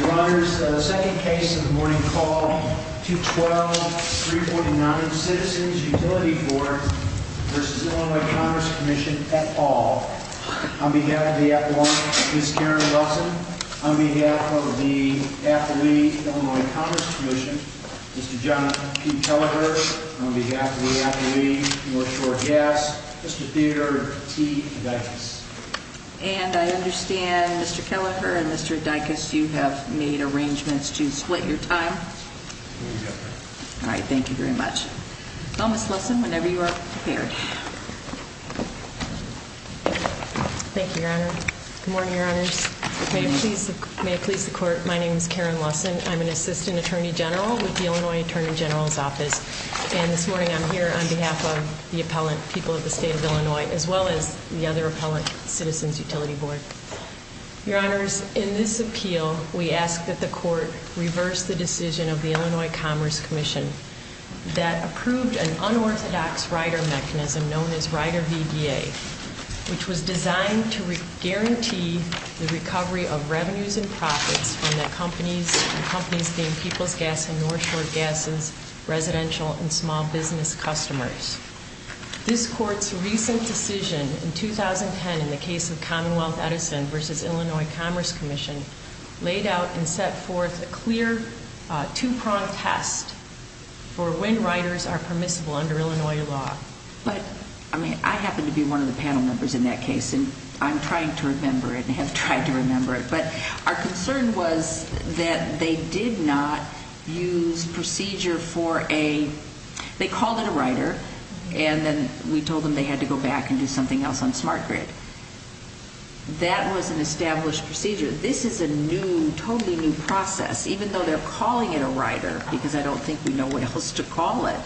Your Honor, the second case of the morning called 212-349 Citizens Utility Court v. Illinois Commerce Commission et al. On behalf of the appellant, Ms. Karen Wilson. On behalf of the athlete, Illinois Commerce Commission, Mr. John P. Kelleher. On behalf of the athlete, North Shore Gas, Mr. Theodore T. Dykus. And I understand, Mr. Kelleher and Mr. Dykus, you have made arrangements to split your time. All right, thank you very much. Well, Ms. Wilson, whenever you are prepared. Thank you, Your Honor. Good morning, Your Honors. May it please the Court, my name is Karen Wilson. I'm an Assistant Attorney General with the Illinois Attorney General's Office. And this morning I'm here on behalf of the appellant, people of the state of Illinois, as well as the other appellant, Citizens Utility Board. Your Honors, in this appeal, we ask that the Court reverse the decision of the Illinois Commerce Commission that approved an unorthodox rider mechanism known as Rider VBA, which was designed to guarantee the recovery of revenues and profits from the companies and companies being People's Gas and North Shore Gas's residential and small business customers. This Court's recent decision in 2010 in the case of Commonwealth Edison versus Illinois Commerce Commission laid out and set forth a clear two-pronged test for when riders are permissible under Illinois law. But, I mean, I happen to be one of the panel members in that case and I'm trying to remember it and have tried to remember it. But our concern was that they did not use procedure for a, they called it a rider, and then we told them they had to go back and do something else on Smart Grid. That was an established procedure. This is a new, totally new process, even though they're calling it a rider, because I don't think we know what else to call it.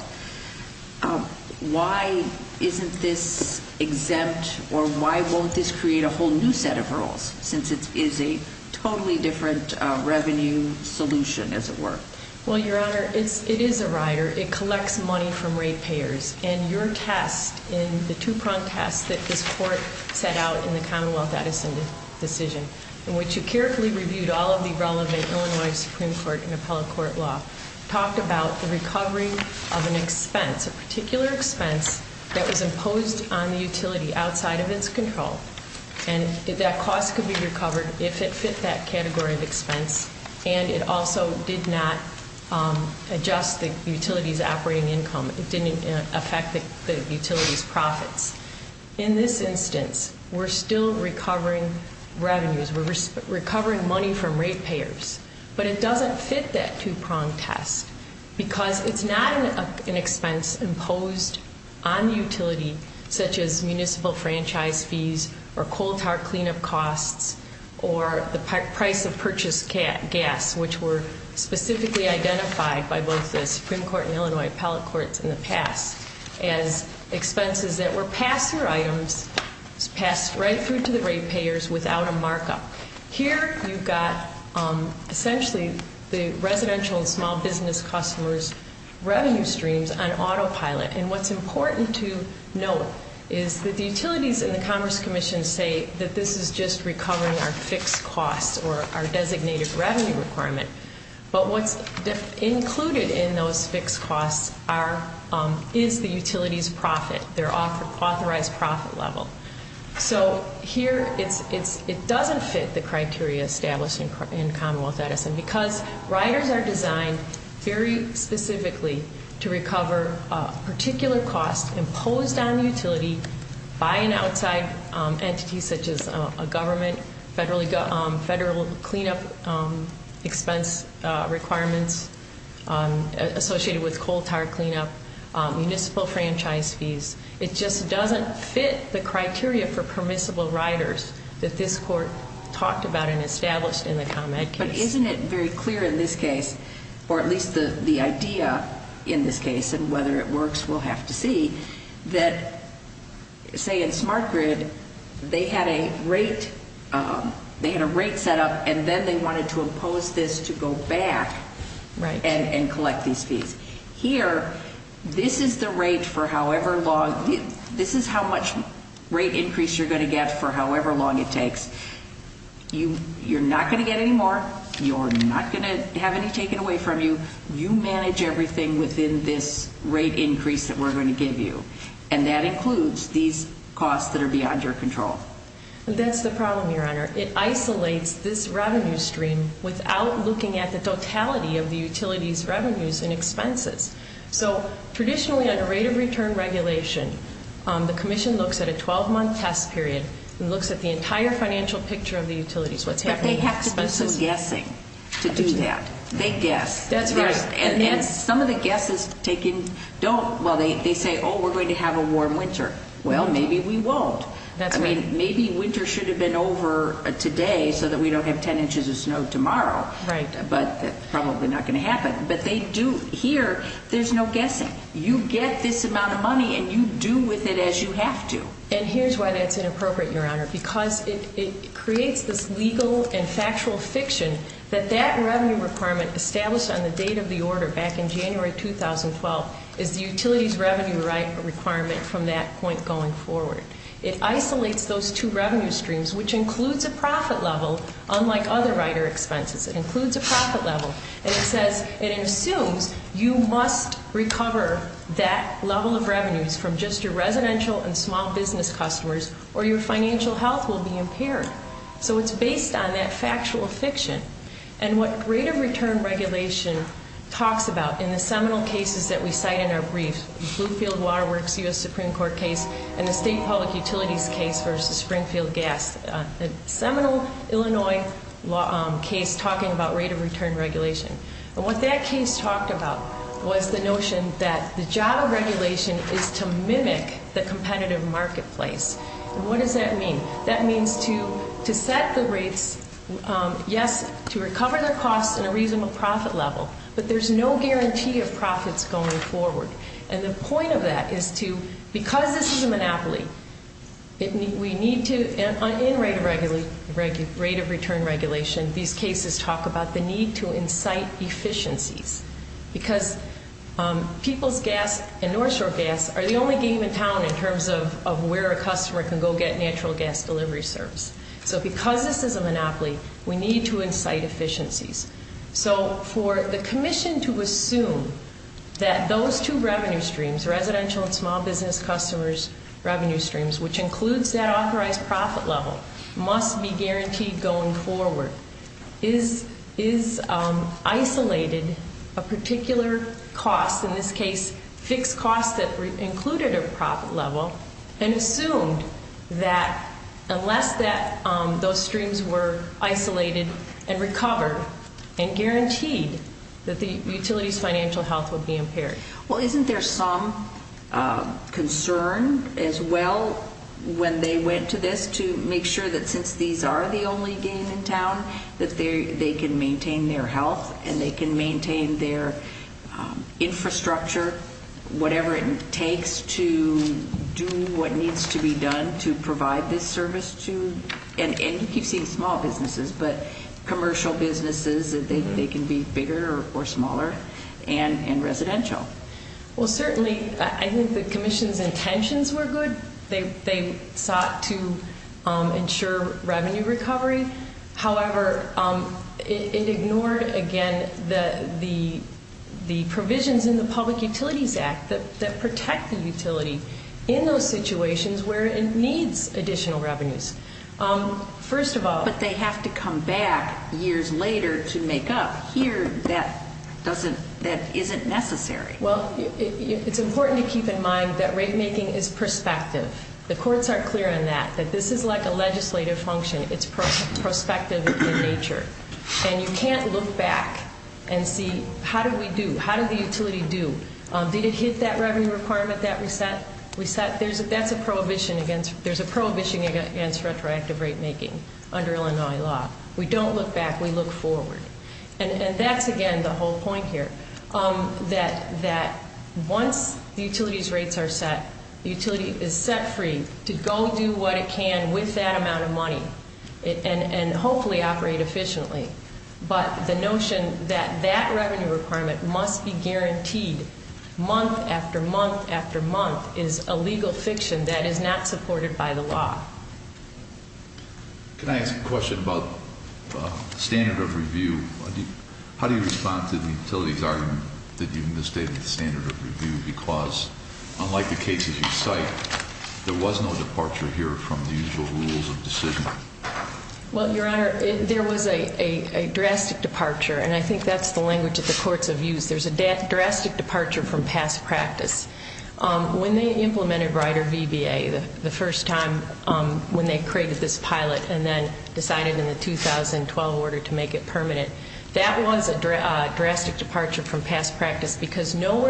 Why isn't this exempt or why won't this create a whole new set of rules, since it is a totally different revenue solution, as it were? Well, Your Honor, it is a rider. It collects money from rate payers. And your test in the two-pronged test that this Court set out in the Commonwealth Edison decision, in which you carefully reviewed all of the relevant Illinois Supreme Court and appellate court law, talked about the recovery of an expense, a particular expense that was imposed on the utility outside of its control. And that cost could be recovered if it fit that category of expense. And it also did not adjust the utility's operating income. It didn't affect the utility's profits. In this instance, we're still recovering revenues. We're recovering money from rate payers. But it doesn't fit that two-pronged test, because it's not an expense imposed on the utility, such as municipal franchise fees or coal-tower cleanup costs or the price of purchased gas, which were specifically identified by both the Supreme Court and Illinois appellate courts in the past as expenses that were passed through items, passed right through to the rate payers without a markup. Here you've got essentially the residential and small business customers' revenue streams on autopilot. And what's important to note is that the utilities and the Commerce Commission say that this is just recovering our fixed costs or our designated revenue requirement. But what's included in those fixed costs is the utility's profit, their authorized profit level. So here it doesn't fit the criteria established in Commonwealth Edison, because riders are designed very specifically to recover particular costs imposed on the utility by an outside entity, such as a government, federal cleanup expense requirements associated with coal-tower cleanup, municipal franchise fees. It just doesn't fit the criteria for permissible riders that this Court talked about and established in the ComEd case. But isn't it very clear in this case, or at least the idea in this case, and whether it works, we'll have to see, that, say, in Smart Grid, they had a rate set up, and then they wanted to impose this to go back and collect these fees. Here, this is the rate for however long – this is how much rate increase you're going to get for however long it takes. You're not going to get any more. You're not going to have any taken away from you. You manage everything within this rate increase that we're going to give you. And that includes these costs that are beyond your control. That's the problem, Your Honor. It isolates this revenue stream without looking at the totality of the utility's revenues and expenses. So traditionally, under rate-of-return regulation, the Commission looks at a 12-month test period and looks at the entire financial picture of the utilities, what's happening, expenses. But they have to do some guessing to do that. They guess. That's right. And some of the guesses taken don't – well, they say, oh, we're going to have a warm winter. Well, maybe we won't. That's right. I mean, maybe winter should have been over today so that we don't have 10 inches of snow tomorrow. Right. But that's probably not going to happen. But they do – here, there's no guessing. You get this amount of money, and you do with it as you have to. And here's why that's inappropriate, Your Honor, because it creates this legal and factual fiction that that revenue requirement established on the date of the order back in January 2012 is the utilities revenue requirement from that point going forward. It isolates those two revenue streams, which includes a profit level, unlike other rider expenses. It includes a profit level. And it says – and it assumes you must recover that level of revenues from just your residential and small business customers, or your financial health will be impaired. So it's based on that factual fiction. And what rate of return regulation talks about in the seminal cases that we cite in our briefs, the Bluefield Water Works U.S. Supreme Court case and the State Public Utilities case versus Springfield Gas, the seminal Illinois case talking about rate of return regulation. And what that case talked about was the notion that the job of regulation is to mimic the competitive marketplace. And what does that mean? That means to set the rates, yes, to recover their costs in a reasonable profit level, but there's no guarantee of profits going forward. And the point of that is to – because this is a monopoly, we need to – in rate of return regulation, these cases talk about the need to incite efficiencies because people's gas and North Shore gas are the only game in town in terms of where a customer can go get natural gas delivery service. So because this is a monopoly, we need to incite efficiencies. So for the commission to assume that those two revenue streams, residential and small business customers' revenue streams, which includes that authorized profit level, must be guaranteed going forward, is isolated a particular cost, in this case fixed costs that included a profit level, and assumed that unless those streams were isolated and recovered and guaranteed that the utility's financial health would be impaired. Well, isn't there some concern as well when they went to this that they can maintain their health and they can maintain their infrastructure, whatever it takes to do what needs to be done to provide this service to – and you keep seeing small businesses, but commercial businesses, that they can be bigger or smaller, and residential. Well, certainly I think the commission's intentions were good. They sought to ensure revenue recovery. However, it ignored, again, the provisions in the Public Utilities Act that protect the utility in those situations where it needs additional revenues. First of all— But they have to come back years later to make up. Here, that isn't necessary. Well, it's important to keep in mind that rate making is perspective. The courts are clear on that, that this is like a legislative function. It's prospective in nature. And you can't look back and see, how did we do? How did the utility do? Did it hit that revenue requirement that we set? That's a prohibition against retroactive rate making under Illinois law. We don't look back. We look forward. And that's, again, the whole point here, that once the utility's rates are set, the utility is set free to go do what it can with that amount of money and hopefully operate efficiently. But the notion that that revenue requirement must be guaranteed month after month after month is a legal fiction that is not supported by the law. Can I ask a question about standard of review? How do you respond to the utility's argument that you misstated the standard of review because unlike the cases you cite, there was no departure here from the usual rules of decision? Well, Your Honor, there was a drastic departure, and I think that's the language that the courts have used. There's a drastic departure from past practice. When they implemented Rider VBA the first time when they created this pilot and then decided in the 2012 order to make it permanent, that was a drastic departure from past practice because no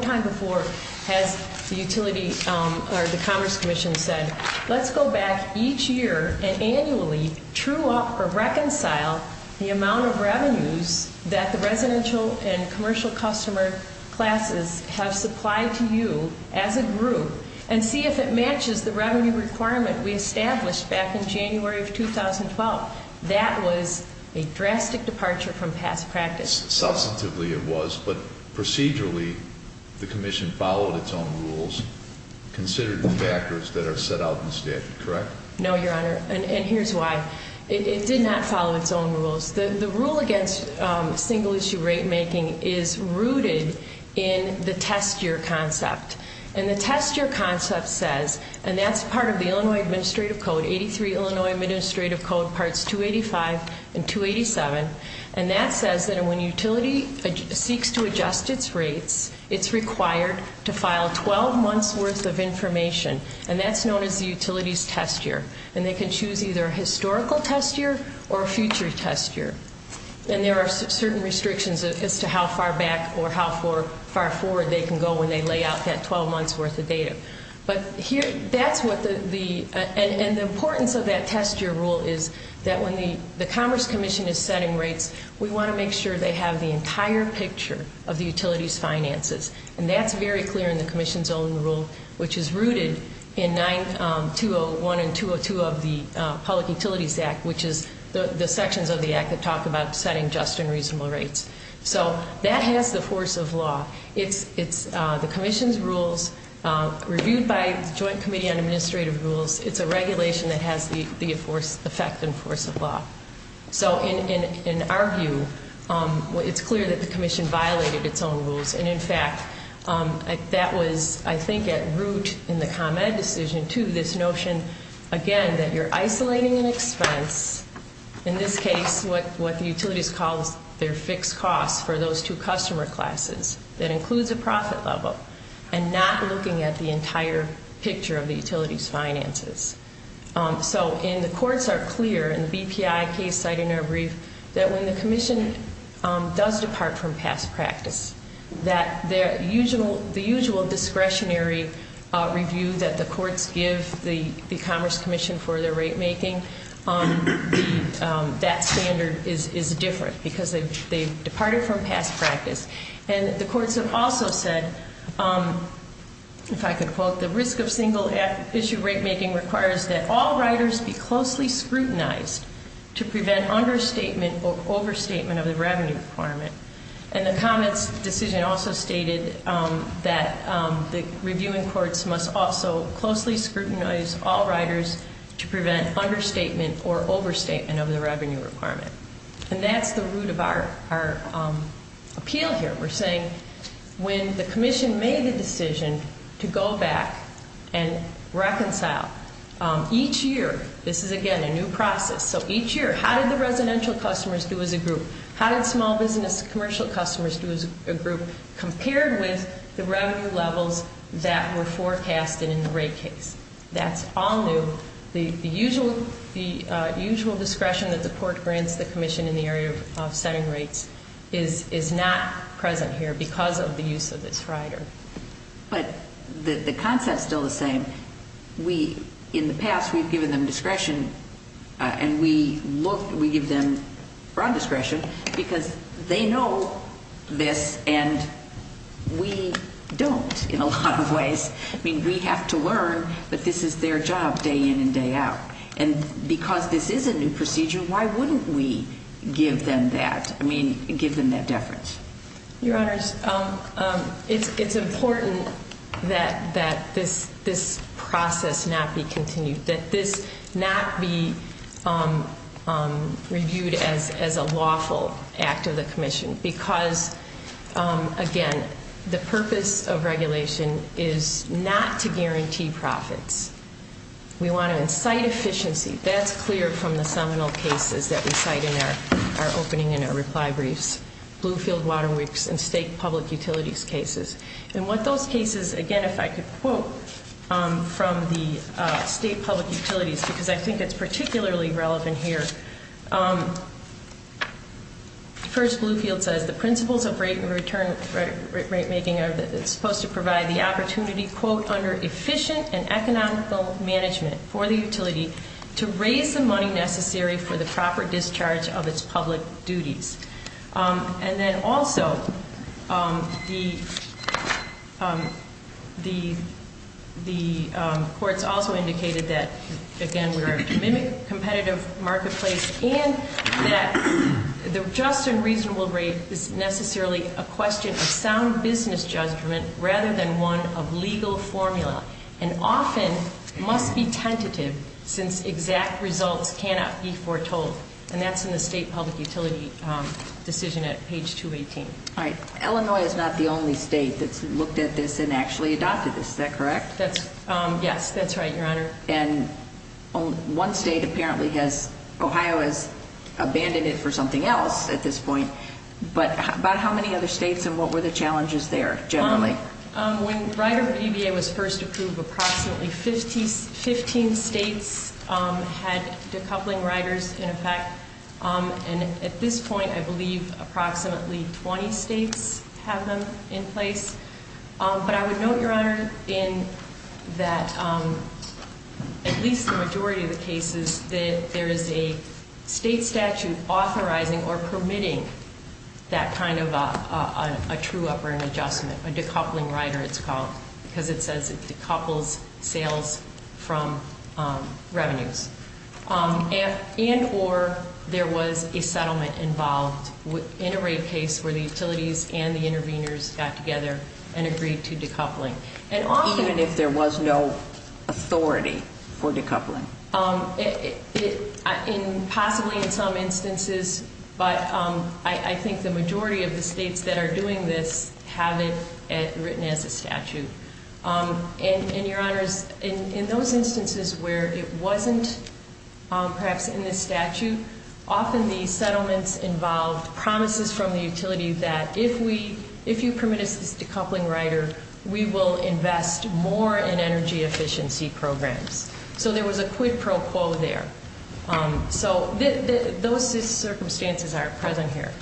time before has the utility or the Commerce Commission said, let's go back each year and annually true up or reconcile the amount of revenues that the residential and commercial customer classes have supplied to you as a group and see if it matches the revenue requirement we established back in January of 2012. That was a drastic departure from past practice. Substantively it was, but procedurally the Commission followed its own rules, considered the factors that are set out in the statute, correct? No, Your Honor, and here's why. It did not follow its own rules. The rule against single-issue rate making is rooted in the test-year concept, and the test-year concept says, and that's part of the Illinois Administrative Code, 83 Illinois Administrative Code, Parts 285 and 287, and that says that when a utility seeks to adjust its rates, it's required to file 12 months' worth of information, and that's known as the utility's test-year, and they can choose either a historical test-year or a future test-year, and there are certain restrictions as to how far back or how far forward they can go when they lay out that 12 months' worth of data. But that's what the, and the importance of that test-year rule is that when the Commerce Commission is setting rates, we want to make sure they have the entire picture of the utility's finances, and that's very clear in the Commission's own rule, which is rooted in 901 and 202 of the Public Utilities Act, which is the sections of the Act that talk about setting just and reasonable rates. So that has the force of law. It's the Commission's rules reviewed by the Joint Committee on Administrative Rules. It's a regulation that has the effect and force of law. So in our view, it's clear that the Commission violated its own rules, and, in fact, that was, I think, at root in the ComEd decision, too, this notion, again, that you're isolating an expense, in this case what the utilities call their fixed costs for those two customer classes that includes a profit level and not looking at the entire picture of the utility's finances. So, and the courts are clear in the BPI case cited in our brief that when the Commission does depart from past practice, that the usual discretionary review that the courts give the Commerce Commission for their rate-making, that standard is different because they've departed from past practice. And the courts have also said, if I could quote, the risk of single-issue rate-making requires that all riders be closely scrutinized to prevent understatement or overstatement of the revenue requirement. And the ComEd's decision also stated that the reviewing courts must also closely scrutinize all riders to prevent understatement or overstatement of the revenue requirement. And that's the root of our appeal here. We're saying when the Commission made the decision to go back and reconcile, each year, this is, again, a new process. So each year, how did the residential customers do as a group? How did small business commercial customers do as a group compared with the revenue levels that were forecasted in the rate case? That's all new. The usual discretion that the court grants the Commission in the area of setting rates is not present here because of the use of this rider. But the concept's still the same. In the past, we've given them discretion, and we give them broad discretion because they know this, and we don't in a lot of ways. I mean, we have to learn that this is their job day in and day out. And because this is a new procedure, why wouldn't we give them that? I mean, give them that deference. Your Honors, it's important that this process not be continued, that this not be reviewed as a lawful act of the Commission because, again, the purpose of regulation is not to guarantee profits. We want to incite efficiency. That's clear from the seminal cases that we cite in our opening and our reply briefs, Bluefield Waterworks and state public utilities cases. And what those cases, again, if I could quote from the state public utilities, because I think it's particularly relevant here. First, Bluefield says, the principles of rate making are supposed to provide the opportunity, quote, under efficient and economical management for the utility to raise the money necessary for the proper discharge of its public duties. And then also, the courts also indicated that, again, we are to mimic competitive marketplace and that the just and reasonable rate is necessarily a question of sound business judgment rather than one of legal formula and often must be tentative since exact results cannot be foretold. And that's in the state public utility decision at page 218. All right. Illinois is not the only state that's looked at this and actually adopted this. Is that correct? Yes, that's right, Your Honor. And one state apparently has, Ohio has abandoned it for something else at this point. But about how many other states and what were the challenges there generally? When Rider VBA was first approved, approximately 15 states had decoupling riders in effect. And at this point, I believe approximately 20 states have them in place. But I would note, Your Honor, in that at least the majority of the cases, that there is a state statute authorizing or permitting that kind of a true up-run adjustment, a decoupling rider it's called, because it says it decouples sales from revenues. And or there was a settlement involved in a rate case where the utilities and the interveners got together and agreed to decoupling. Even if there was no authority for decoupling? Possibly in some instances, but I think the majority of the states that are doing this have it written as a statute. And Your Honors, in those instances where it wasn't perhaps in the statute, often the settlements involved promises from the utility that if you permit us this decoupling rider, we will invest more in energy efficiency programs. So there was a quid pro quo there. So those circumstances are present here.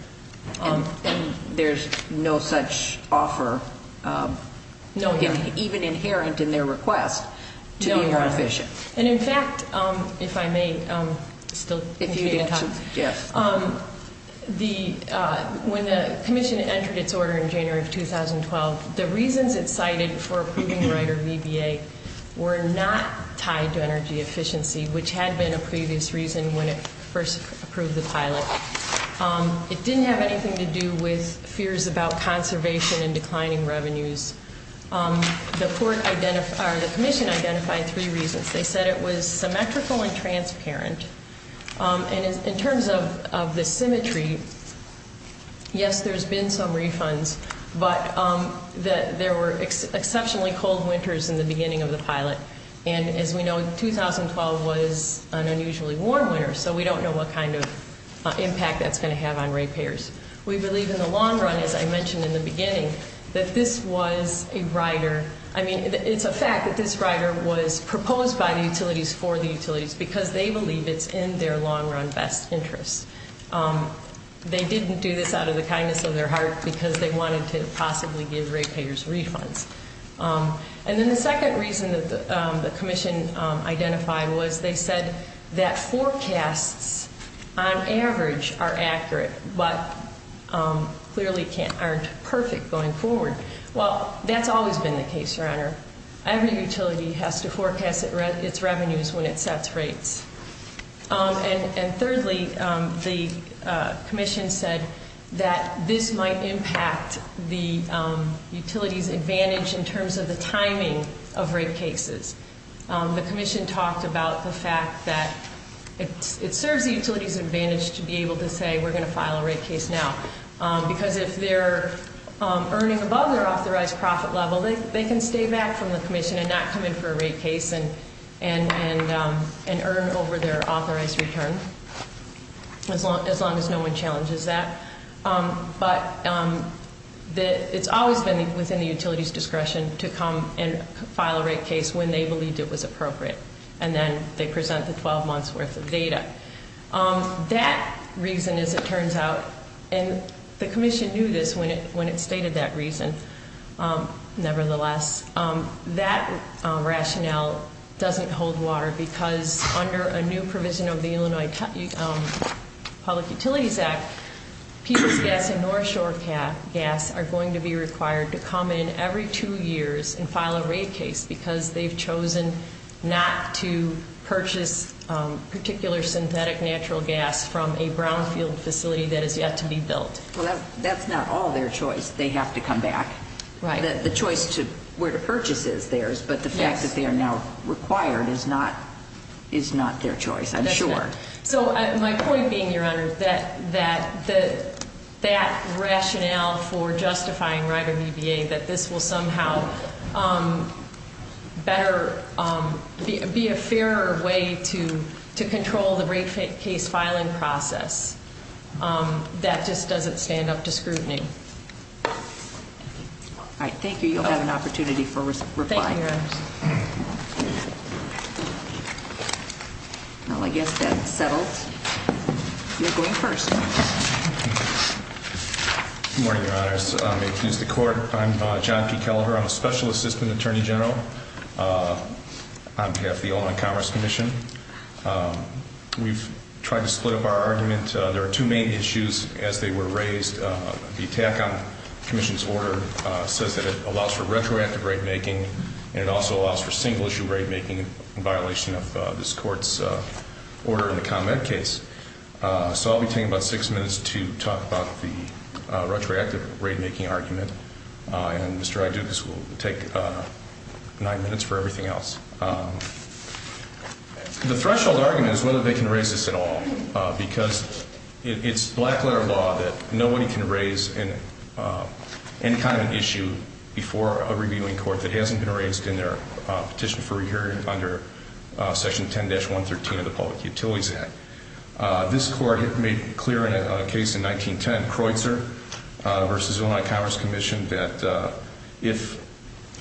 There's no such offer, even inherent in their request, to be more efficient. And in fact, if I may still continue to talk. Yes. When the commission entered its order in January of 2012, the reasons it cited for approving rider VBA were not tied to energy efficiency, which had been a previous reason when it first approved the pilot. It didn't have anything to do with fears about conservation and declining revenues. The commission identified three reasons. They said it was symmetrical and transparent. And in terms of the symmetry, yes, there's been some refunds, but there were exceptionally cold winters in the beginning of the pilot. And as we know, 2012 was an unusually warm winter, so we don't know what kind of impact that's going to have on rate payers. We believe in the long run, as I mentioned in the beginning, that this was a rider. I mean, it's a fact that this rider was proposed by the utilities for the utilities because they believe it's in their long-run best interest. They didn't do this out of the kindness of their heart because they wanted to possibly give rate payers refunds. And then the second reason that the commission identified was they said that forecasts, on average, are accurate, but clearly aren't perfect going forward. Well, that's always been the case, Your Honor. Every utility has to forecast its revenues when it sets rates. And thirdly, the commission said that this might impact the utility's advantage in terms of the timing of rate cases. The commission talked about the fact that it serves the utility's advantage to be able to say we're going to file a rate case now because if they're earning above their authorized profit level, they can stay back from the commission and not come in for a rate case and earn over their authorized return, as long as no one challenges that. But it's always been within the utility's discretion to come and file a rate case when they believed it was appropriate, and then they present the 12 months' worth of data. That reason, as it turns out, and the commission knew this when it stated that reason, nevertheless, that rationale doesn't hold water because under a new provision of the Illinois Public Utilities Act, Peoples Gas and North Shore Gas are going to be required to come in every two years and file a rate case because they've chosen not to purchase particular synthetic natural gas from a brownfield facility that has yet to be built. Well, that's not all their choice. They have to come back. Right. The choice to where to purchase is theirs, but the fact that they are now required is not their choice, I'm sure. So my point being, Your Honor, that that rationale for justifying right of EBA, that this will somehow be a fairer way to control the rate case filing process, that just doesn't stand up to scrutiny. All right, thank you. You'll have an opportunity for reply. Thank you, Your Honor. Well, I guess that's settled. You're going first. Good morning, Your Honors. May it please the Court, I'm John P. Kelleher. I'm a Special Assistant Attorney General on behalf of the Illinois Commerce Commission. We've tried to split up our argument. There are two main issues as they were raised. The attack on the Commission's order says that it allows for retroactive rate-making, and it also allows for single-issue rate-making in violation of this Court's order in the ComEd case. So I'll be taking about six minutes to talk about the retroactive rate-making argument, and Mr. Aducas will take nine minutes for everything else. The threshold argument is whether they can raise this at all, because it's black-letter law that nobody can raise any kind of issue before a reviewing court that hasn't been raised in their petition for re-hearing under Section 10-113 of the Public Utilities Act. This Court made clear in a case in 1910, Creutzer v. Illinois Commerce Commission, that if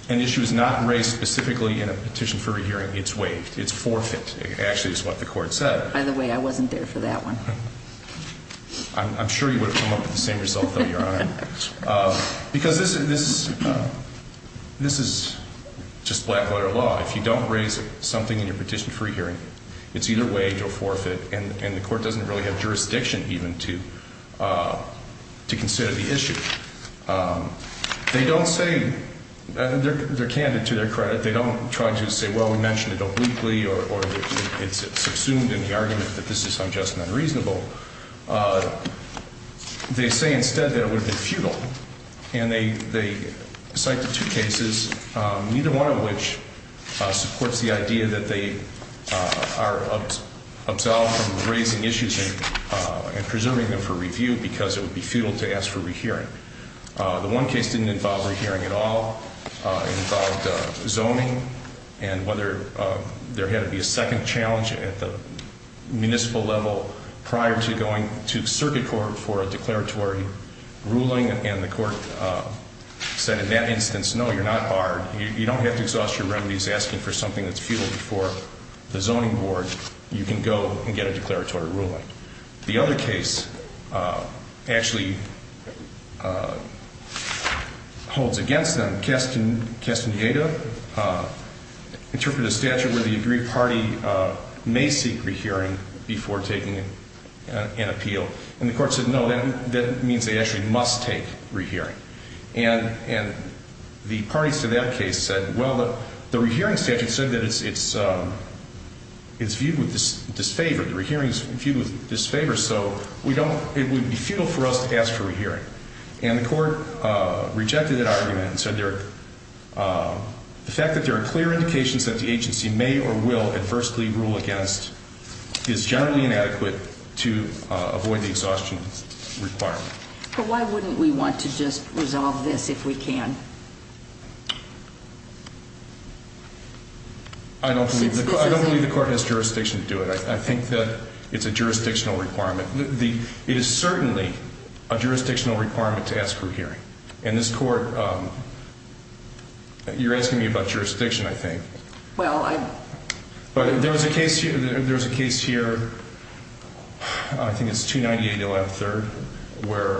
an issue is not raised specifically in a petition for re-hearing, it's waived, it's forfeit. It actually is what the Court said. By the way, I wasn't there for that one. I'm sure you would have come up with the same result, though, Your Honor. Because this is just black-letter law. If you don't raise something in your petition for re-hearing, it's either waived or forfeit, and the Court doesn't really have jurisdiction even to consider the issue. They don't say they're candid to their credit. They don't try to say, well, we mentioned it obliquely, or it's assumed in the argument that this is unjust and unreasonable. They say instead that it would have been futile, and they cite the two cases, neither one of which supports the idea that they are absolved from raising issues and preserving them for review because it would be futile to ask for re-hearing. The one case didn't involve re-hearing at all. It involved zoning and whether there had to be a second challenge at the municipal level prior to going to circuit court for a declaratory ruling, and the Court said in that instance, no, you're not barred. You don't have to exhaust your remedies asking for something that's futile before the zoning board. You can go and get a declaratory ruling. The other case actually holds against them. Castaneda interpreted a statute where the agreed party may seek re-hearing before taking an appeal, and the Court said, no, that means they actually must take re-hearing, and the parties to that case said, well, the re-hearing statute said that it's viewed with disfavor. The re-hearing is viewed with disfavor, so it would be futile for us to ask for re-hearing, and the Court rejected that argument and said the fact that there are clear indications that the agency may or will adversely rule against is generally inadequate to avoid the exhaustion requirement. But why wouldn't we want to just resolve this if we can? I don't believe the Court has jurisdiction to do it. I think that it's a jurisdictional requirement. It is certainly a jurisdictional requirement to ask for a hearing. In this Court, you're asking me about jurisdiction, I think. Well, I'm... But there's a case here, I think it's 298-11-3, where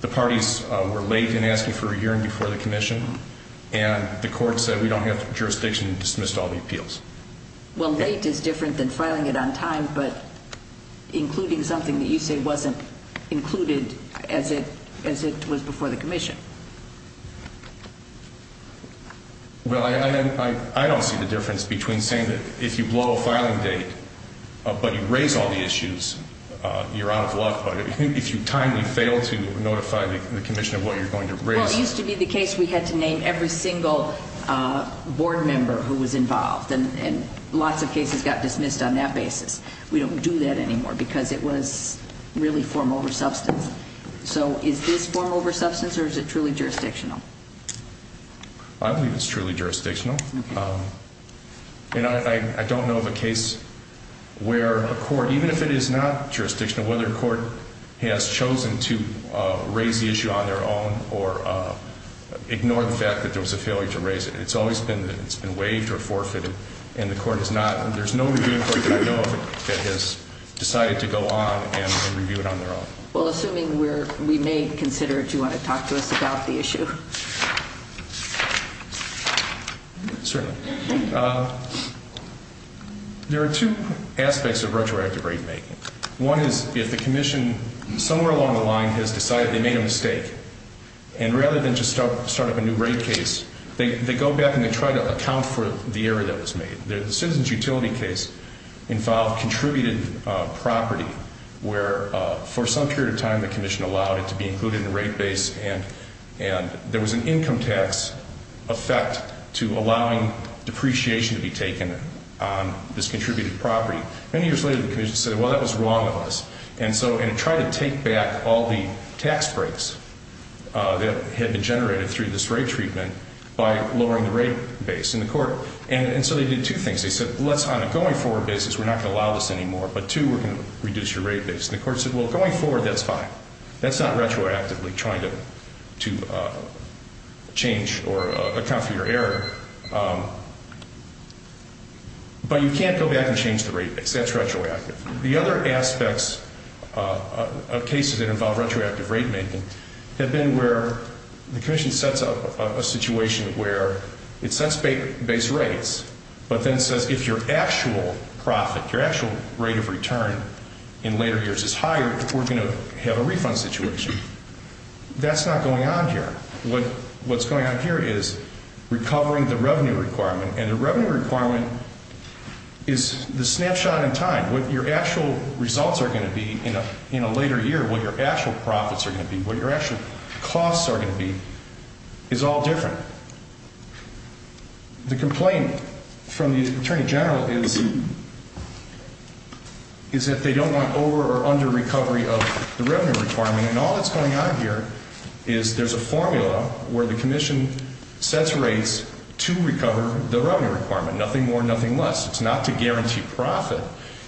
the parties were late in asking for a hearing before the commission, and the Court said we don't have jurisdiction to dismiss all the appeals. Well, late is different than filing it on time, but including something that you say wasn't included as it was before the commission. Well, I don't see the difference between saying that if you blow a filing date but you raise all the issues, you're out of luck, but if you timely fail to notify the commission of what you're going to raise... Well, it used to be the case we had to name every single board member who was involved, and lots of cases got dismissed on that basis. We don't do that anymore because it was really form over substance. So is this form over substance or is it truly jurisdictional? I believe it's truly jurisdictional. And I don't know of a case where a court, even if it is not jurisdictional, whether a court has chosen to raise the issue on their own or ignore the fact that there was a failure to raise it. It's always been waived or forfeited, and the court has not. There's no review court that I know of that has decided to go on and review it on their own. Well, assuming we may consider it, do you want to talk to us about the issue? Certainly. There are two aspects of retroactive rate making. One is if the commission somewhere along the line has decided they made a mistake, and rather than just start up a new rate case, they go back and they try to account for the error that was made. The citizens' utility case involved contributed property where, for some period of time, the commission allowed it to be included in the rate base, and there was an income tax effect to allowing depreciation to be taken on this contributed property. Many years later, the commission said, well, that was wrong of us, and tried to take back all the tax breaks that had been generated through this rate treatment by lowering the rate base. And so they did two things. They said, on a going forward basis, we're not going to allow this anymore, but two, we're going to reduce your rate base. And the court said, well, going forward, that's fine. That's not retroactively trying to change or account for your error. But you can't go back and change the rate base. That's retroactive. The other aspects of cases that involve retroactive rate making have been where the commission sets up a situation where it sets base rates, but then says if your actual profit, your actual rate of return in later years is higher, we're going to have a refund situation. That's not going on here. What's going on here is recovering the revenue requirement. And the revenue requirement is the snapshot in time. What your actual results are going to be in a later year, what your actual profits are going to be, what your actual costs are going to be is all different. The complaint from the Attorney General is that they don't want over or under recovery of the revenue requirement. And all that's going on here is there's a formula where the commission sets rates to recover the revenue requirement, nothing more, nothing less. It's not to guarantee profit.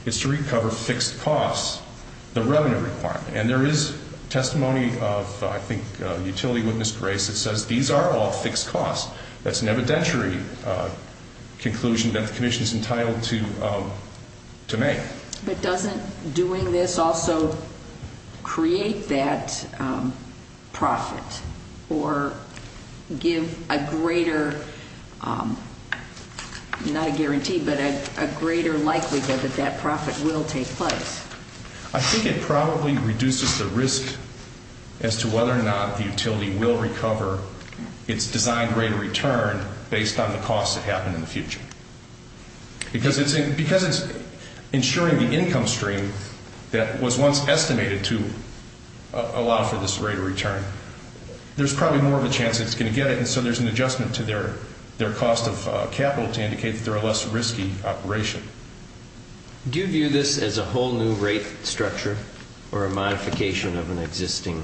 It's to recover fixed costs, the revenue requirement. And there is testimony of, I think, utility witness Grace that says these are all fixed costs. That's an evidentiary conclusion that the commission is entitled to make. But doesn't doing this also create that profit or give a greater, not a guarantee, but a greater likelihood that that profit will take place? I think it probably reduces the risk as to whether or not the utility will recover its designed rate of return based on the costs that happen in the future. Because it's ensuring the income stream that was once estimated to allow for this rate of return, there's probably more of a chance it's going to get it, and so there's an adjustment to their cost of capital to indicate that they're a less risky operation. Do you view this as a whole new rate structure or a modification of an existing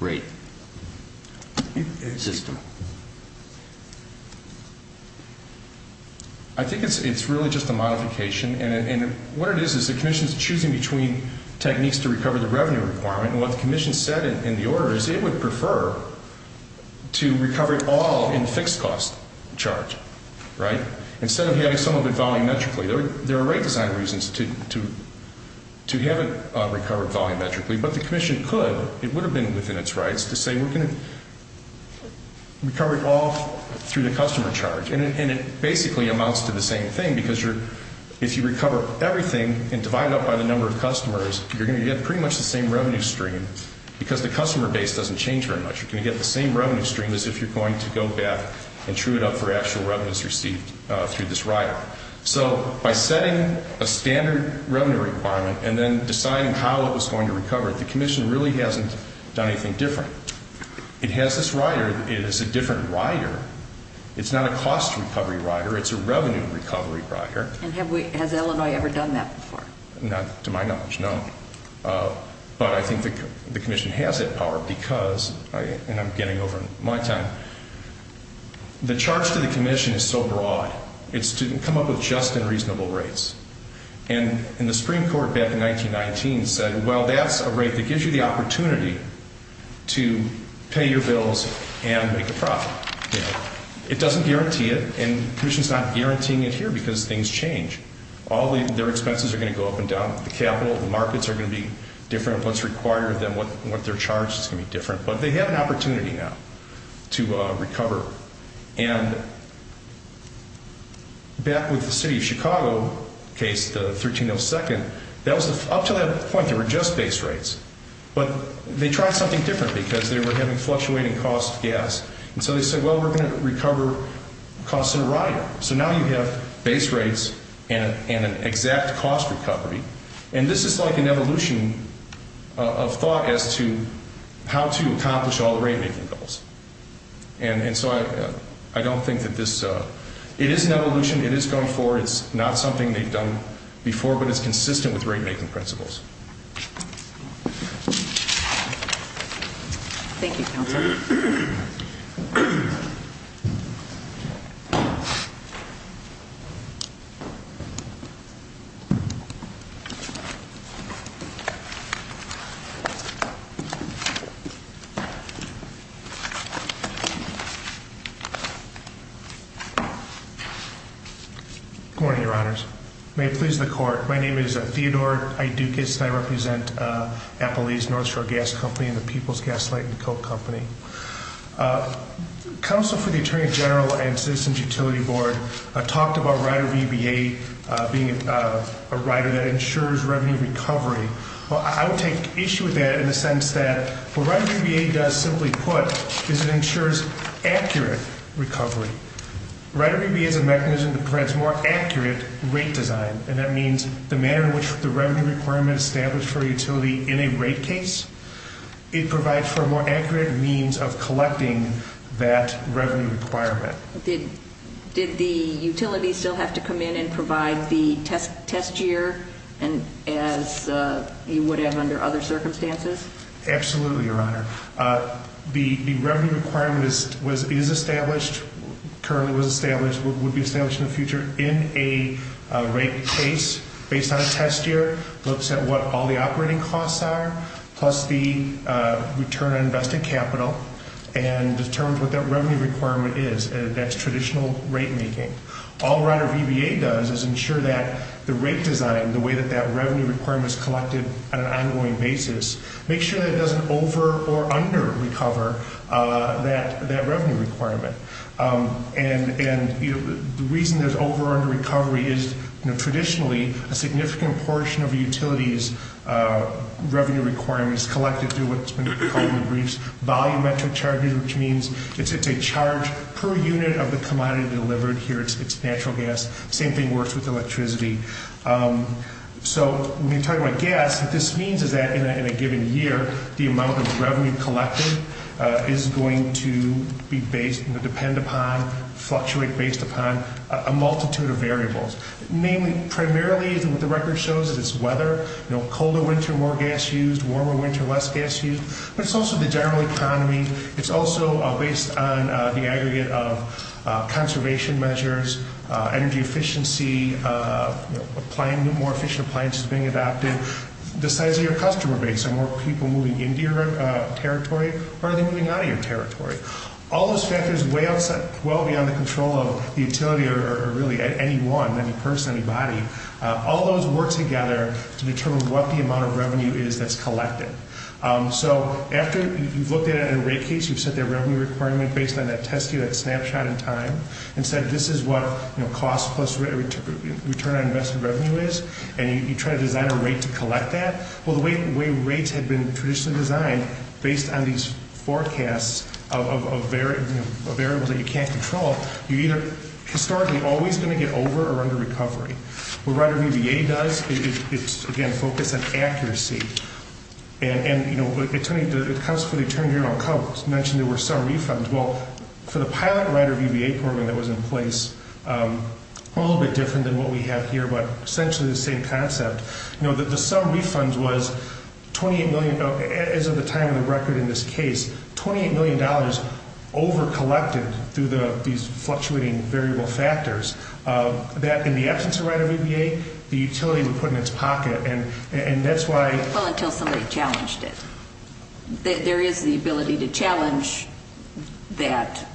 rate system? I think it's really just a modification. And what it is is the commission is choosing between techniques to recover the revenue requirement, and what the commission said in the order is it would prefer to recover it all in fixed cost charge, right, instead of having some of it volumetrically. There are rate design reasons to have it recovered volumetrically, but the commission could, it would have been within its rights to say we're going to recover it all through the customer charge. And it basically amounts to the same thing because if you recover everything and divide it up by the number of customers, you're going to get pretty much the same revenue stream because the customer base doesn't change very much. You're going to get the same revenue stream as if you're going to go back and true it up for actual revenues received through this rider. So by setting a standard revenue requirement and then deciding how it was going to recover, the commission really hasn't done anything different. It has this rider. It is a different rider. It's not a cost recovery rider. It's a revenue recovery rider. And has Illinois ever done that before? Not to my knowledge, no. But I think the commission has that power because, and I'm getting over my time, the charge to the commission is so broad. It's to come up with just and reasonable rates. And the Supreme Court back in 1919 said, well, that's a rate that gives you the opportunity to pay your bills and make a profit. It doesn't guarantee it, and the commission's not guaranteeing it here because things change. All their expenses are going to go up and down. The capital, the markets are going to be different. What's required of them, what they're charged is going to be different. But they have an opportunity now to recover. And back with the city of Chicago case, the 1302nd, up to that point there were just base rates. But they tried something different because they were having fluctuating cost of gas. And so they said, well, we're going to recover costs in a rider. So now you have base rates and an exact cost recovery. And this is like an evolution of thought as to how to accomplish all the rate-making goals. And so I don't think that this is an evolution. It is going forward. It's not something they've done before, but it's consistent with rate-making principles. Thank you, Counselor. Good morning, Your Honors. May it please the Court, my name is Theodore Idoukis. And I represent Appalachia's North Shore Gas Company and the People's Gas Light and Co. Company. Counsel for the Attorney General and Citizens Utility Board talked about rider VBA being a rider that ensures revenue recovery. Well, I would take issue with that in the sense that what rider VBA does, simply put, is it ensures accurate recovery. Rider VBA is a mechanism that provides more accurate rate design. And that means the manner in which the revenue requirement is established for a utility in a rate case, it provides for a more accurate means of collecting that revenue requirement. Did the utility still have to come in and provide the test year as you would have under other circumstances? Absolutely, Your Honor. The revenue requirement is established, currently was established, would be established in the future, in a rate case based on a test year, looks at what all the operating costs are, plus the return on invested capital, and determines what that revenue requirement is. That's traditional rate-making. All rider VBA does is ensure that the rate design, the way that that revenue requirement is collected on an ongoing basis, makes sure that it doesn't over- or under-recover that revenue requirement. And the reason there's over- or under-recovery is traditionally a significant portion of a utility's revenue requirement is collected through what's been called in the briefs volumetric charges, which means it's a charge per unit of the commodity delivered. Here it's natural gas. Same thing works with electricity. So when we talk about gas, what this means is that in a given year, the amount of revenue collected is going to be based and depend upon, fluctuate based upon, a multitude of variables. Namely, primarily what the record shows is weather. Colder winter, more gas used. Warmer winter, less gas used. But it's also the general economy. It's also based on the aggregate of conservation measures, energy efficiency, more efficient appliances being adopted. The size of your customer base. Are more people moving into your territory? Or are they moving out of your territory? All those factors way outside, well beyond the control of the utility or really anyone, any person, anybody. All those work together to determine what the amount of revenue is that's collected. So after you've looked at a rate case, you've set that revenue requirement based on that test unit snapshot in time. And said this is what cost plus return on investment revenue is. And you try to design a rate to collect that. Well, the way rates have been traditionally designed based on these forecasts of variables that you can't control, you're either historically always going to get over or under recovery. What Rider VBA does, it's again focused on accuracy. And, you know, the counsel for the attorney general mentioned there were some refunds. Well, for the pilot Rider VBA program that was in place, a little bit different than what we have here. But essentially the same concept. You know, the sum refunds was 28 million, as of the time of the record in this case, $28 million over collected through these fluctuating variable factors. That in the absence of Rider VBA, the utility would put in its pocket. And that's why. Well, until somebody challenged it. There is the ability to challenge that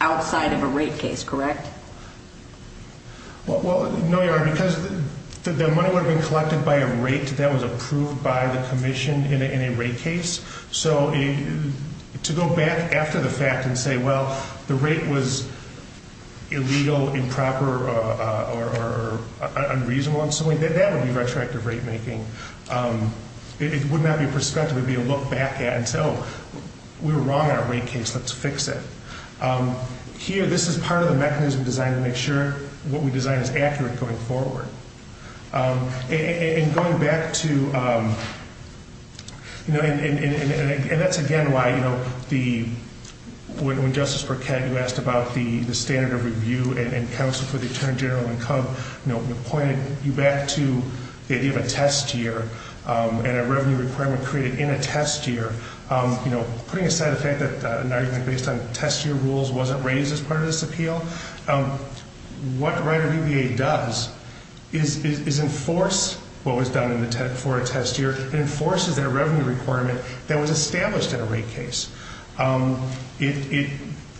outside of a rate case, correct? Well, no, Your Honor, because the money would have been collected by a rate that was approved by the commission in a rate case. So to go back after the fact and say, well, the rate was illegal, improper, or unreasonable in some way, that would be retroactive rate making. It would not be prospective. It would be a look back at until we were wrong in our rate case. Let's fix it. Here, this is part of the mechanism designed to make sure what we design is accurate going forward. And going back to, you know, and that's, again, why, you know, the, when Justice Burkett, you asked about the standard of review and counsel for the attorney general income, you know, pointed you back to the idea of a test year and a revenue requirement created in a test year. You know, putting aside the fact that an argument based on test year rules wasn't raised as part of this appeal, what Rider VBA does is enforce what was done for a test year. It enforces that revenue requirement that was established in a rate case. It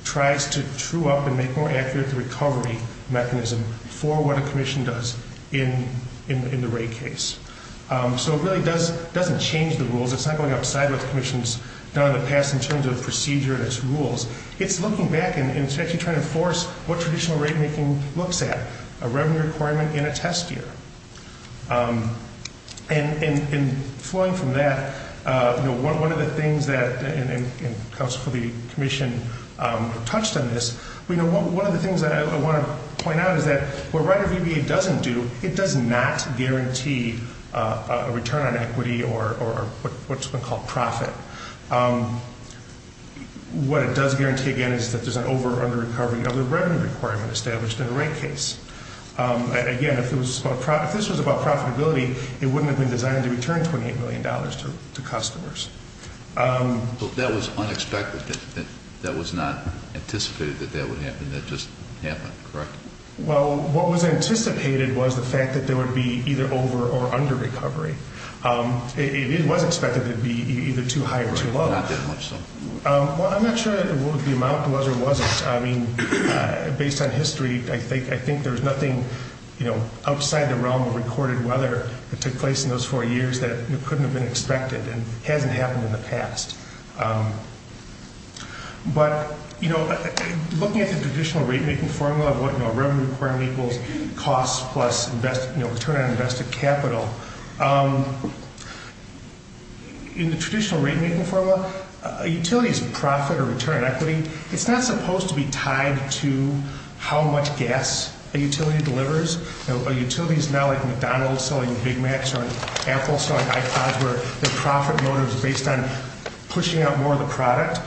tries to true up and make more accurate the recovery mechanism for what a commission does in the rate case. So it really doesn't change the rules. It's not going upside what the commission's done in the past in terms of procedure and its rules. It's looking back and it's actually trying to enforce what traditional rate making looks at, a revenue requirement in a test year. And flowing from that, you know, one of the things that, and counsel for the commission touched on this, you know, one of the things that I want to point out is that what Rider VBA doesn't do, it does not guarantee a return on equity or what's been called profit. What it does guarantee, again, is that there's an over or under recovery of the revenue requirement established in a rate case. Again, if this was about profitability, it wouldn't have been designed to return $28 million to customers. But that was unexpected. That was not anticipated that that would happen. That just happened, correct? Well, what was anticipated was the fact that there would be either over or under recovery. It was expected that it would be either too high or too low. Well, I'm not sure that the amount was or wasn't. I mean, based on history, I think there's nothing, you know, outside the realm of recorded weather that took place in those four years that couldn't have been expected and hasn't happened in the past. But, you know, looking at the traditional rate-making formula of what, you know, revenue requirement equals cost plus return on invested capital. In the traditional rate-making formula, a utility's profit or return on equity, it's not supposed to be tied to how much gas a utility delivers. A utility is not like McDonald's selling Big Macs or Apple selling iPods where their profit motive is based on pushing out more of the product.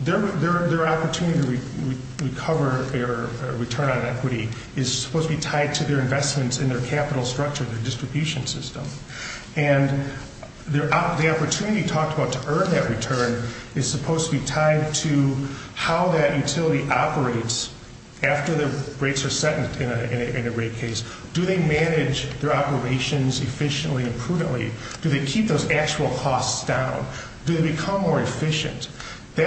Their opportunity to recover their return on equity is supposed to be tied to their investments in their capital structure, their distribution system. And the opportunity talked about to earn that return is supposed to be tied to how that utility operates after the rates are set in a rate case. Do they manage their operations efficiently and prudently? Do they keep those actual costs down? Do they become more efficient? Do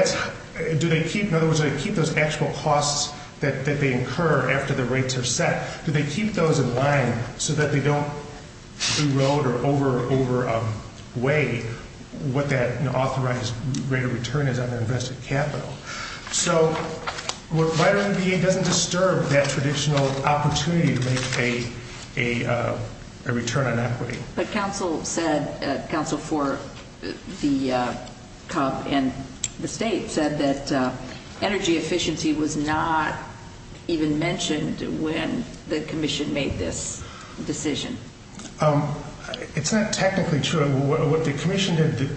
they keep, in other words, do they keep those actual costs that they incur after the rates are set? Do they keep those in line so that they don't erode or overweigh what that authorized rate of return is on their invested capital? So, vitamin B doesn't disturb that traditional opportunity to make a return on equity. But council said, council for the state said that energy efficiency was not even mentioned when the commission made this decision. It's not technically true. What the commission did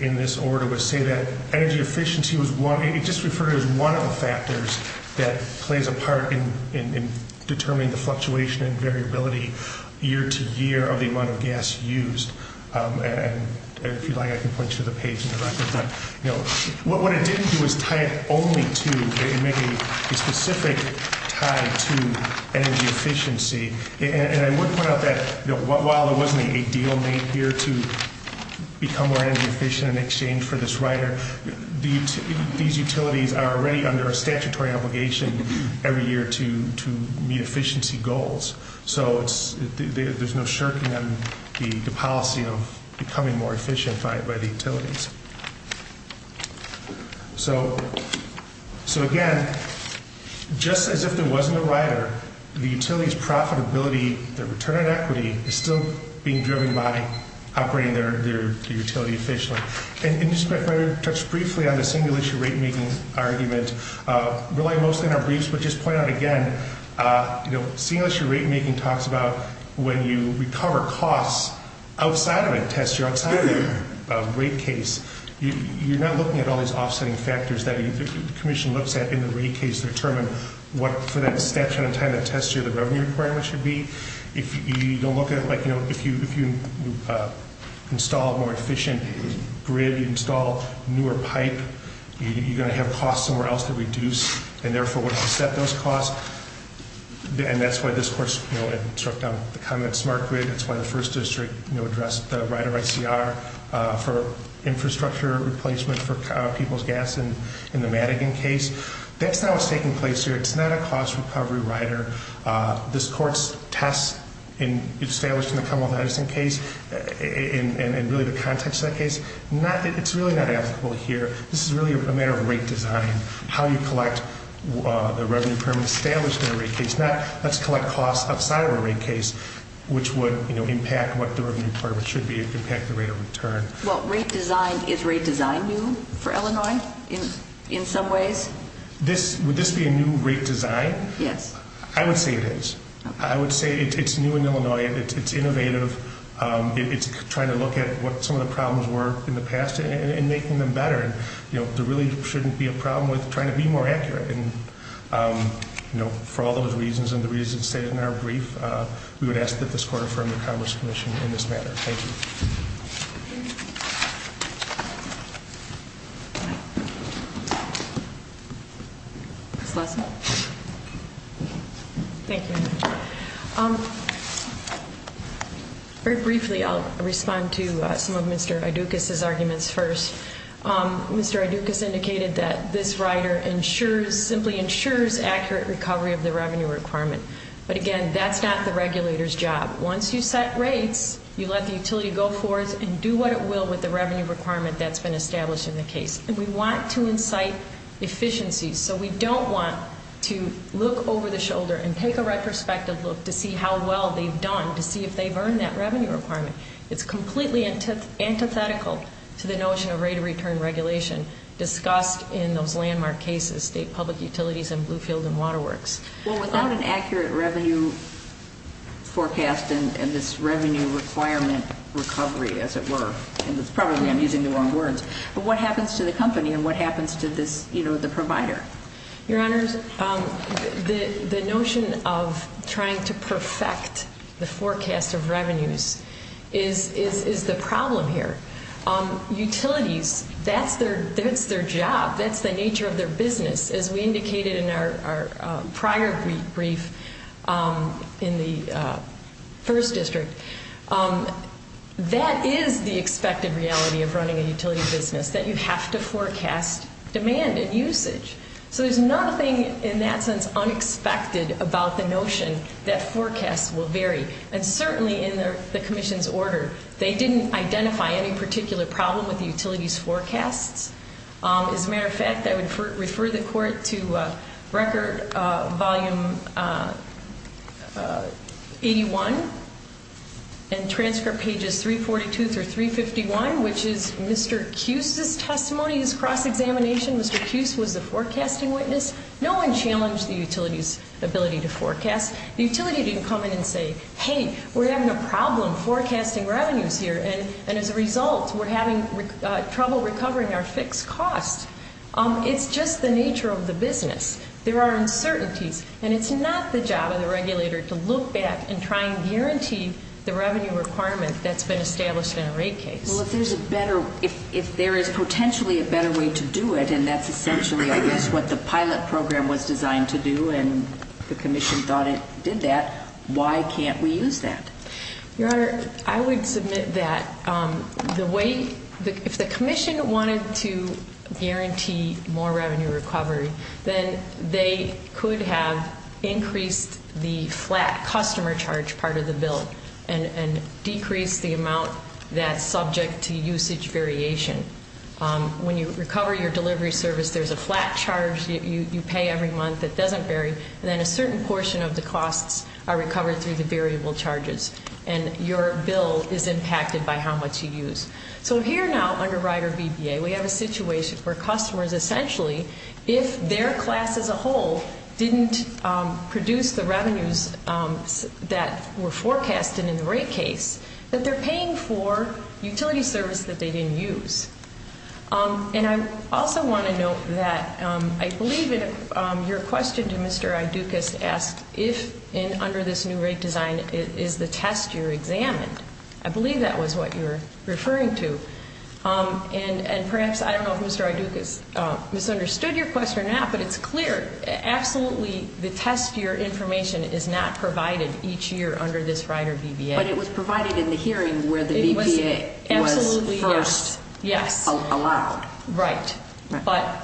in this order was say that energy efficiency was one, it just referred to as one of the factors that plays a part in determining the fluctuation and variability year to year of the amount of gas used. And if you like, I can point you to the page in the record. But, you know, what it didn't do is tie it only to and make a specific tie to energy efficiency. And I would point out that while there wasn't a deal made here to become more energy efficient in exchange for this rider, these utilities are already under a statutory obligation every year to meet efficiency goals. So there's no shirking the policy of becoming more efficient by the utilities. So, so again, just as if there wasn't a rider, the utilities profitability, the return on equity is still being driven by operating their utility efficiently. And just to touch briefly on the single issue rate making argument, rely mostly on our briefs, but just point out again, you know, single issue rate making talks about when you recover costs outside of a test, you're outside of a rate case. You're not looking at all these offsetting factors that the commission looks at in the rate case to determine what for that statute of time that test year, the revenue requirement should be. If you don't look at it like, you know, if you, if you install a more efficient grid, you install newer pipe, you're going to have costs somewhere else to reduce and therefore set those costs. And that's why this course, you know, it struck down the comments market. That's why the first district, you know, address the rider ICR for infrastructure replacement for people's gas and in the Madigan case, that's not what's taking place here. It's not a cost recovery rider. This court's tests in established in the Commonwealth Edison case and really the context of that case. Not that it's really not applicable here. This is really a matter of rate design, how you collect the revenue permit established in a rate case. Now let's collect costs outside of a rate case, which would impact what the revenue part of it should be. It could impact the rate of return. Well, rate design is rate design new for Illinois in some ways. This, would this be a new rate design? Yes. I would say it is. I would say it's new in Illinois. It's innovative. It's trying to look at what some of the problems were in the past and making them better. And, you know, there really shouldn't be a problem with trying to be more accurate. And, you know, for all those reasons and the reasons stated in our brief, we would ask that this court affirm the Congress commission in this matter. Thank you. Ms. Lassen. Thank you, Madam Chair. Very briefly, I'll respond to some of Mr. Idukis' arguments first. Mr. Idukis indicated that this rider ensures, simply ensures, accurate recovery of the revenue requirement. But, again, that's not the regulator's job. Once you set rates, you let the utility go forth and do what it will with the revenue requirement that's been established in the case. And, we want to incite efficiency. So, we don't want to look over the shoulder and take a retrospective look to see how well they've done to see if they've earned that revenue requirement. It's completely antithetical to the notion of rate of return regulation discussed in those landmark cases, state public utilities and Bluefield and Waterworks. Well, without an accurate revenue forecast and this revenue requirement recovery, as it were, and probably I'm using the wrong words, but what happens to the company and what happens to this, you know, the provider? Your Honors, the notion of trying to perfect the forecast of revenues is the problem here. Utilities, that's their job. That's the nature of their business, as we indicated in our prior brief in the first district. That is the expected reality of running a utility business, that you have to forecast demand and usage. So, there's nothing, in that sense, unexpected about the notion that forecasts will vary. And, certainly, in the commission's order, they didn't identify any particular problem with the utility's forecasts. As a matter of fact, I would refer the court to record volume 81 and transcript pages 342 through 351, which is Mr. Cuse's testimony, his cross-examination. Mr. Cuse was the forecasting witness. No one challenged the utility's ability to forecast. The utility didn't come in and say, hey, we're having a problem forecasting revenues here. And, as a result, we're having trouble recovering our fixed costs. It's just the nature of the business. There are uncertainties. And it's not the job of the regulator to look back and try and guarantee the revenue requirement that's been established in a rate case. Well, if there's a better, if there is potentially a better way to do it, and that's essentially, I guess, what the pilot program was designed to do and the commission thought it did that, why can't we use that? Your Honor, I would submit that the way, if the commission wanted to guarantee more revenue recovery, then they could have increased the flat customer charge part of the bill and decreased the amount that's subject to usage variation. When you recover your delivery service, there's a flat charge you pay every month that doesn't vary, and then a certain portion of the costs are recovered through the variable charges, and your bill is impacted by how much you use. So here now, under Rider VBA, we have a situation where customers essentially, if their class as a whole didn't produce the revenues that were forecasted in the rate case, that they're paying for utility service that they didn't use. And I also want to note that I believe your question to Mr. Idukis asked if, under this new rate design, is the test year examined. I believe that was what you were referring to. And perhaps, I don't know if Mr. Idukis misunderstood your question or not, but it's clear. Absolutely, the test year information is not provided each year under this Rider VBA. But it was provided in the hearing where the VBA was first. Yes. Oh, wow. Right. But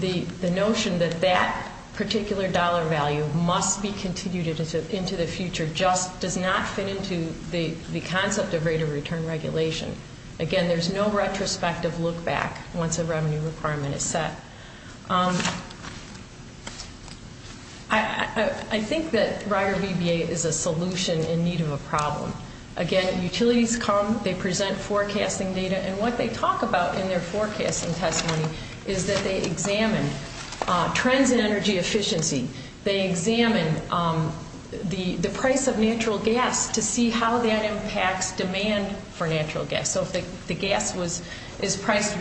the notion that that particular dollar value must be continued into the future just does not fit into the concept of rate of return regulation. Again, there's no retrospective look back once a revenue requirement is set. I think that Rider VBA is a solution in need of a problem. Again, utilities come, they present forecasting data. And what they talk about in their forecasting testimony is that they examine trends in energy efficiency. They examine the price of natural gas to see how that impacts demand for natural gas. So if the gas is priced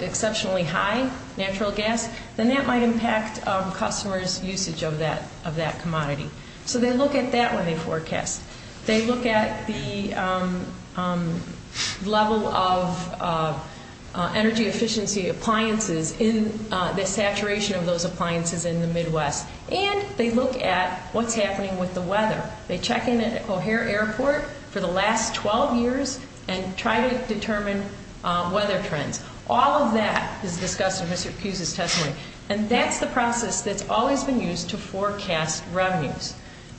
exceptionally high, natural gas, then that might impact customers' usage of that commodity. So they look at that when they forecast. They look at the level of energy efficiency appliances in the saturation of those appliances in the Midwest. And they look at what's happening with the weather. They check in at O'Hare Airport for the last 12 years and try to determine weather trends. All of that is discussed in Mr. Hughes' testimony. And that's the process that's always been used to forecast revenues.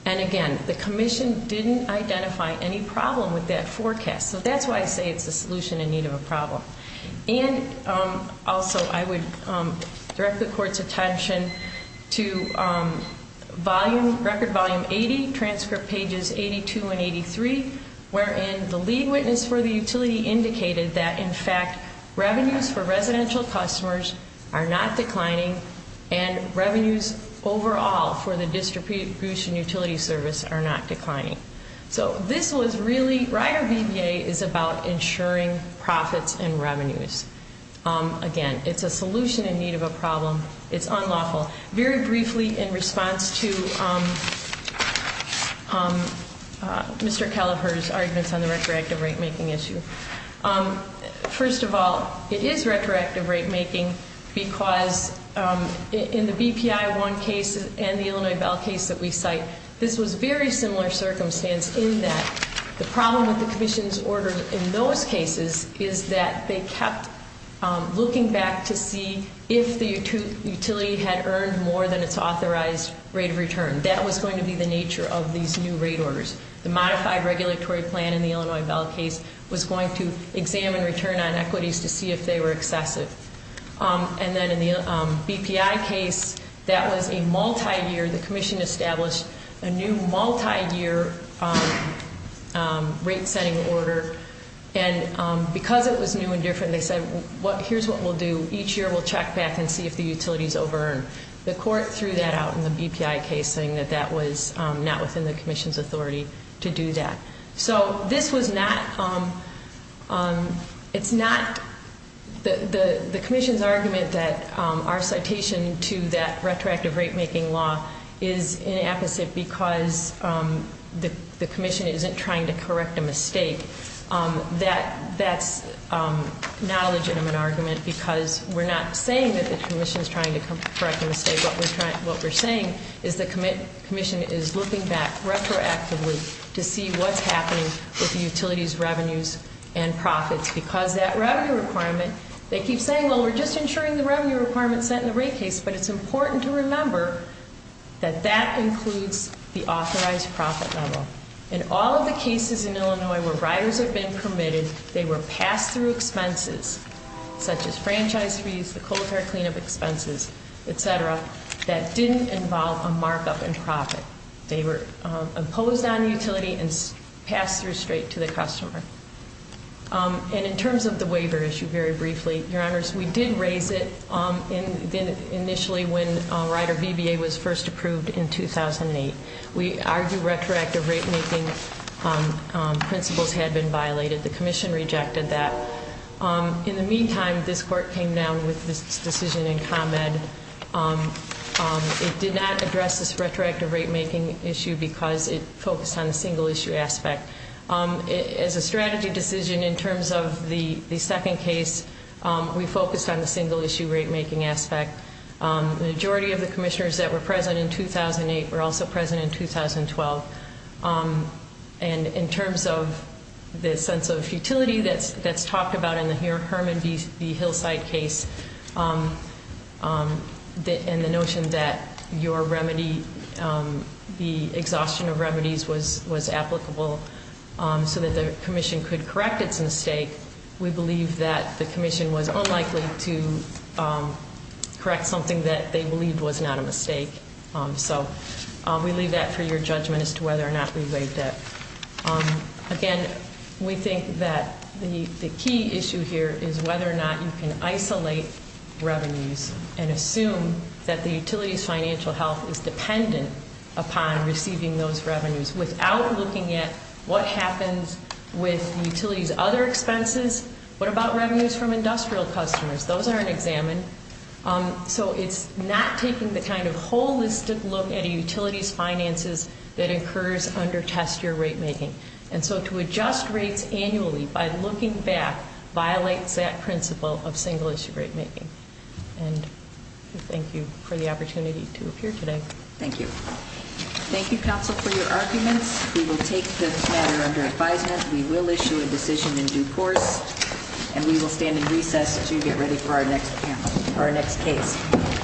And again, the commission didn't identify any problem with that forecast. So that's why I say it's a solution in need of a problem. And also, I would direct the court's attention to record volume 80, transcript pages 82 and 83, wherein the lead witness for the utility indicated that, in fact, revenues for residential customers are not declining and revenues overall for the distribution utility service are not declining. So this was really, Rider VBA is about ensuring profits and revenues. Again, it's a solution in need of a problem. It's unlawful. Very briefly, in response to Mr. Kelleher's arguments on the retroactive rate-making issue, first of all, it is retroactive rate-making because in the BPI-1 case and the Illinois Bell case that we cite, this was very similar circumstance in that the problem with the commission's order in those cases is that they kept looking back to see if the utility had earned more than its authorized rate of return. That was going to be the nature of these new rate orders. The modified regulatory plan in the Illinois Bell case was going to examine return on equities to see if they were excessive. And then in the BPI case, that was a multi-year. The commission established a new multi-year rate-setting order. And because it was new and different, they said, here's what we'll do. Each year we'll check back and see if the utility's over-earned. The court threw that out in the BPI case, saying that that was not within the commission's authority to do that. So this was not, it's not, the commission's argument that our citation to that retroactive rate-making law is inapposite because the commission isn't trying to correct a mistake, that's not a legitimate argument because we're not saying that the commission's trying to correct a mistake. What we're saying is the commission is looking back retroactively to see what's happening with the utility's revenues and profits. Because that revenue requirement, they keep saying, well, we're just ensuring the revenue requirement's set in the rate case. But it's important to remember that that includes the authorized profit level. In all of the cases in Illinois where riders have been permitted, they were passed through expenses, such as franchise fees, the coal-fired cleanup expenses, etc., that didn't involve a markup in profit. They were imposed on the utility and passed through straight to the customer. And in terms of the waiver issue, very briefly, your honors, we did raise it initially when Rider VBA was first approved in 2008. We argued retroactive rate-making principles had been violated. The commission rejected that. In the meantime, this court came down with this decision in comment. It did not address this retroactive rate-making issue because it focused on the single-issue aspect. As a strategy decision in terms of the second case, we focused on the single-issue rate-making aspect. The majority of the commissioners that were present in 2008 were also present in 2012. And in terms of the sense of futility that's talked about in the Herman B. Hillside case, and the notion that your remedy, the exhaustion of remedies was applicable so that the commission could correct its mistake. We believe that the commission was unlikely to correct something that they believed was not a mistake. So we leave that for your judgment as to whether or not we waived that. Again, we think that the key issue here is whether or not you can isolate revenues and assume that the utility's financial health is dependent upon receiving those revenues without looking at what are their expenses, what about revenues from industrial customers? Those aren't examined. So it's not taking the kind of holistic look at a utility's finances that occurs under test year rate-making. And so to adjust rates annually by looking back violates that principle of single-issue rate-making. And thank you for the opportunity to appear today. Thank you. Thank you, counsel, for your arguments. We will take this matter under advisement. We will issue a decision in due course. And we will stand in recess to get ready for our next case.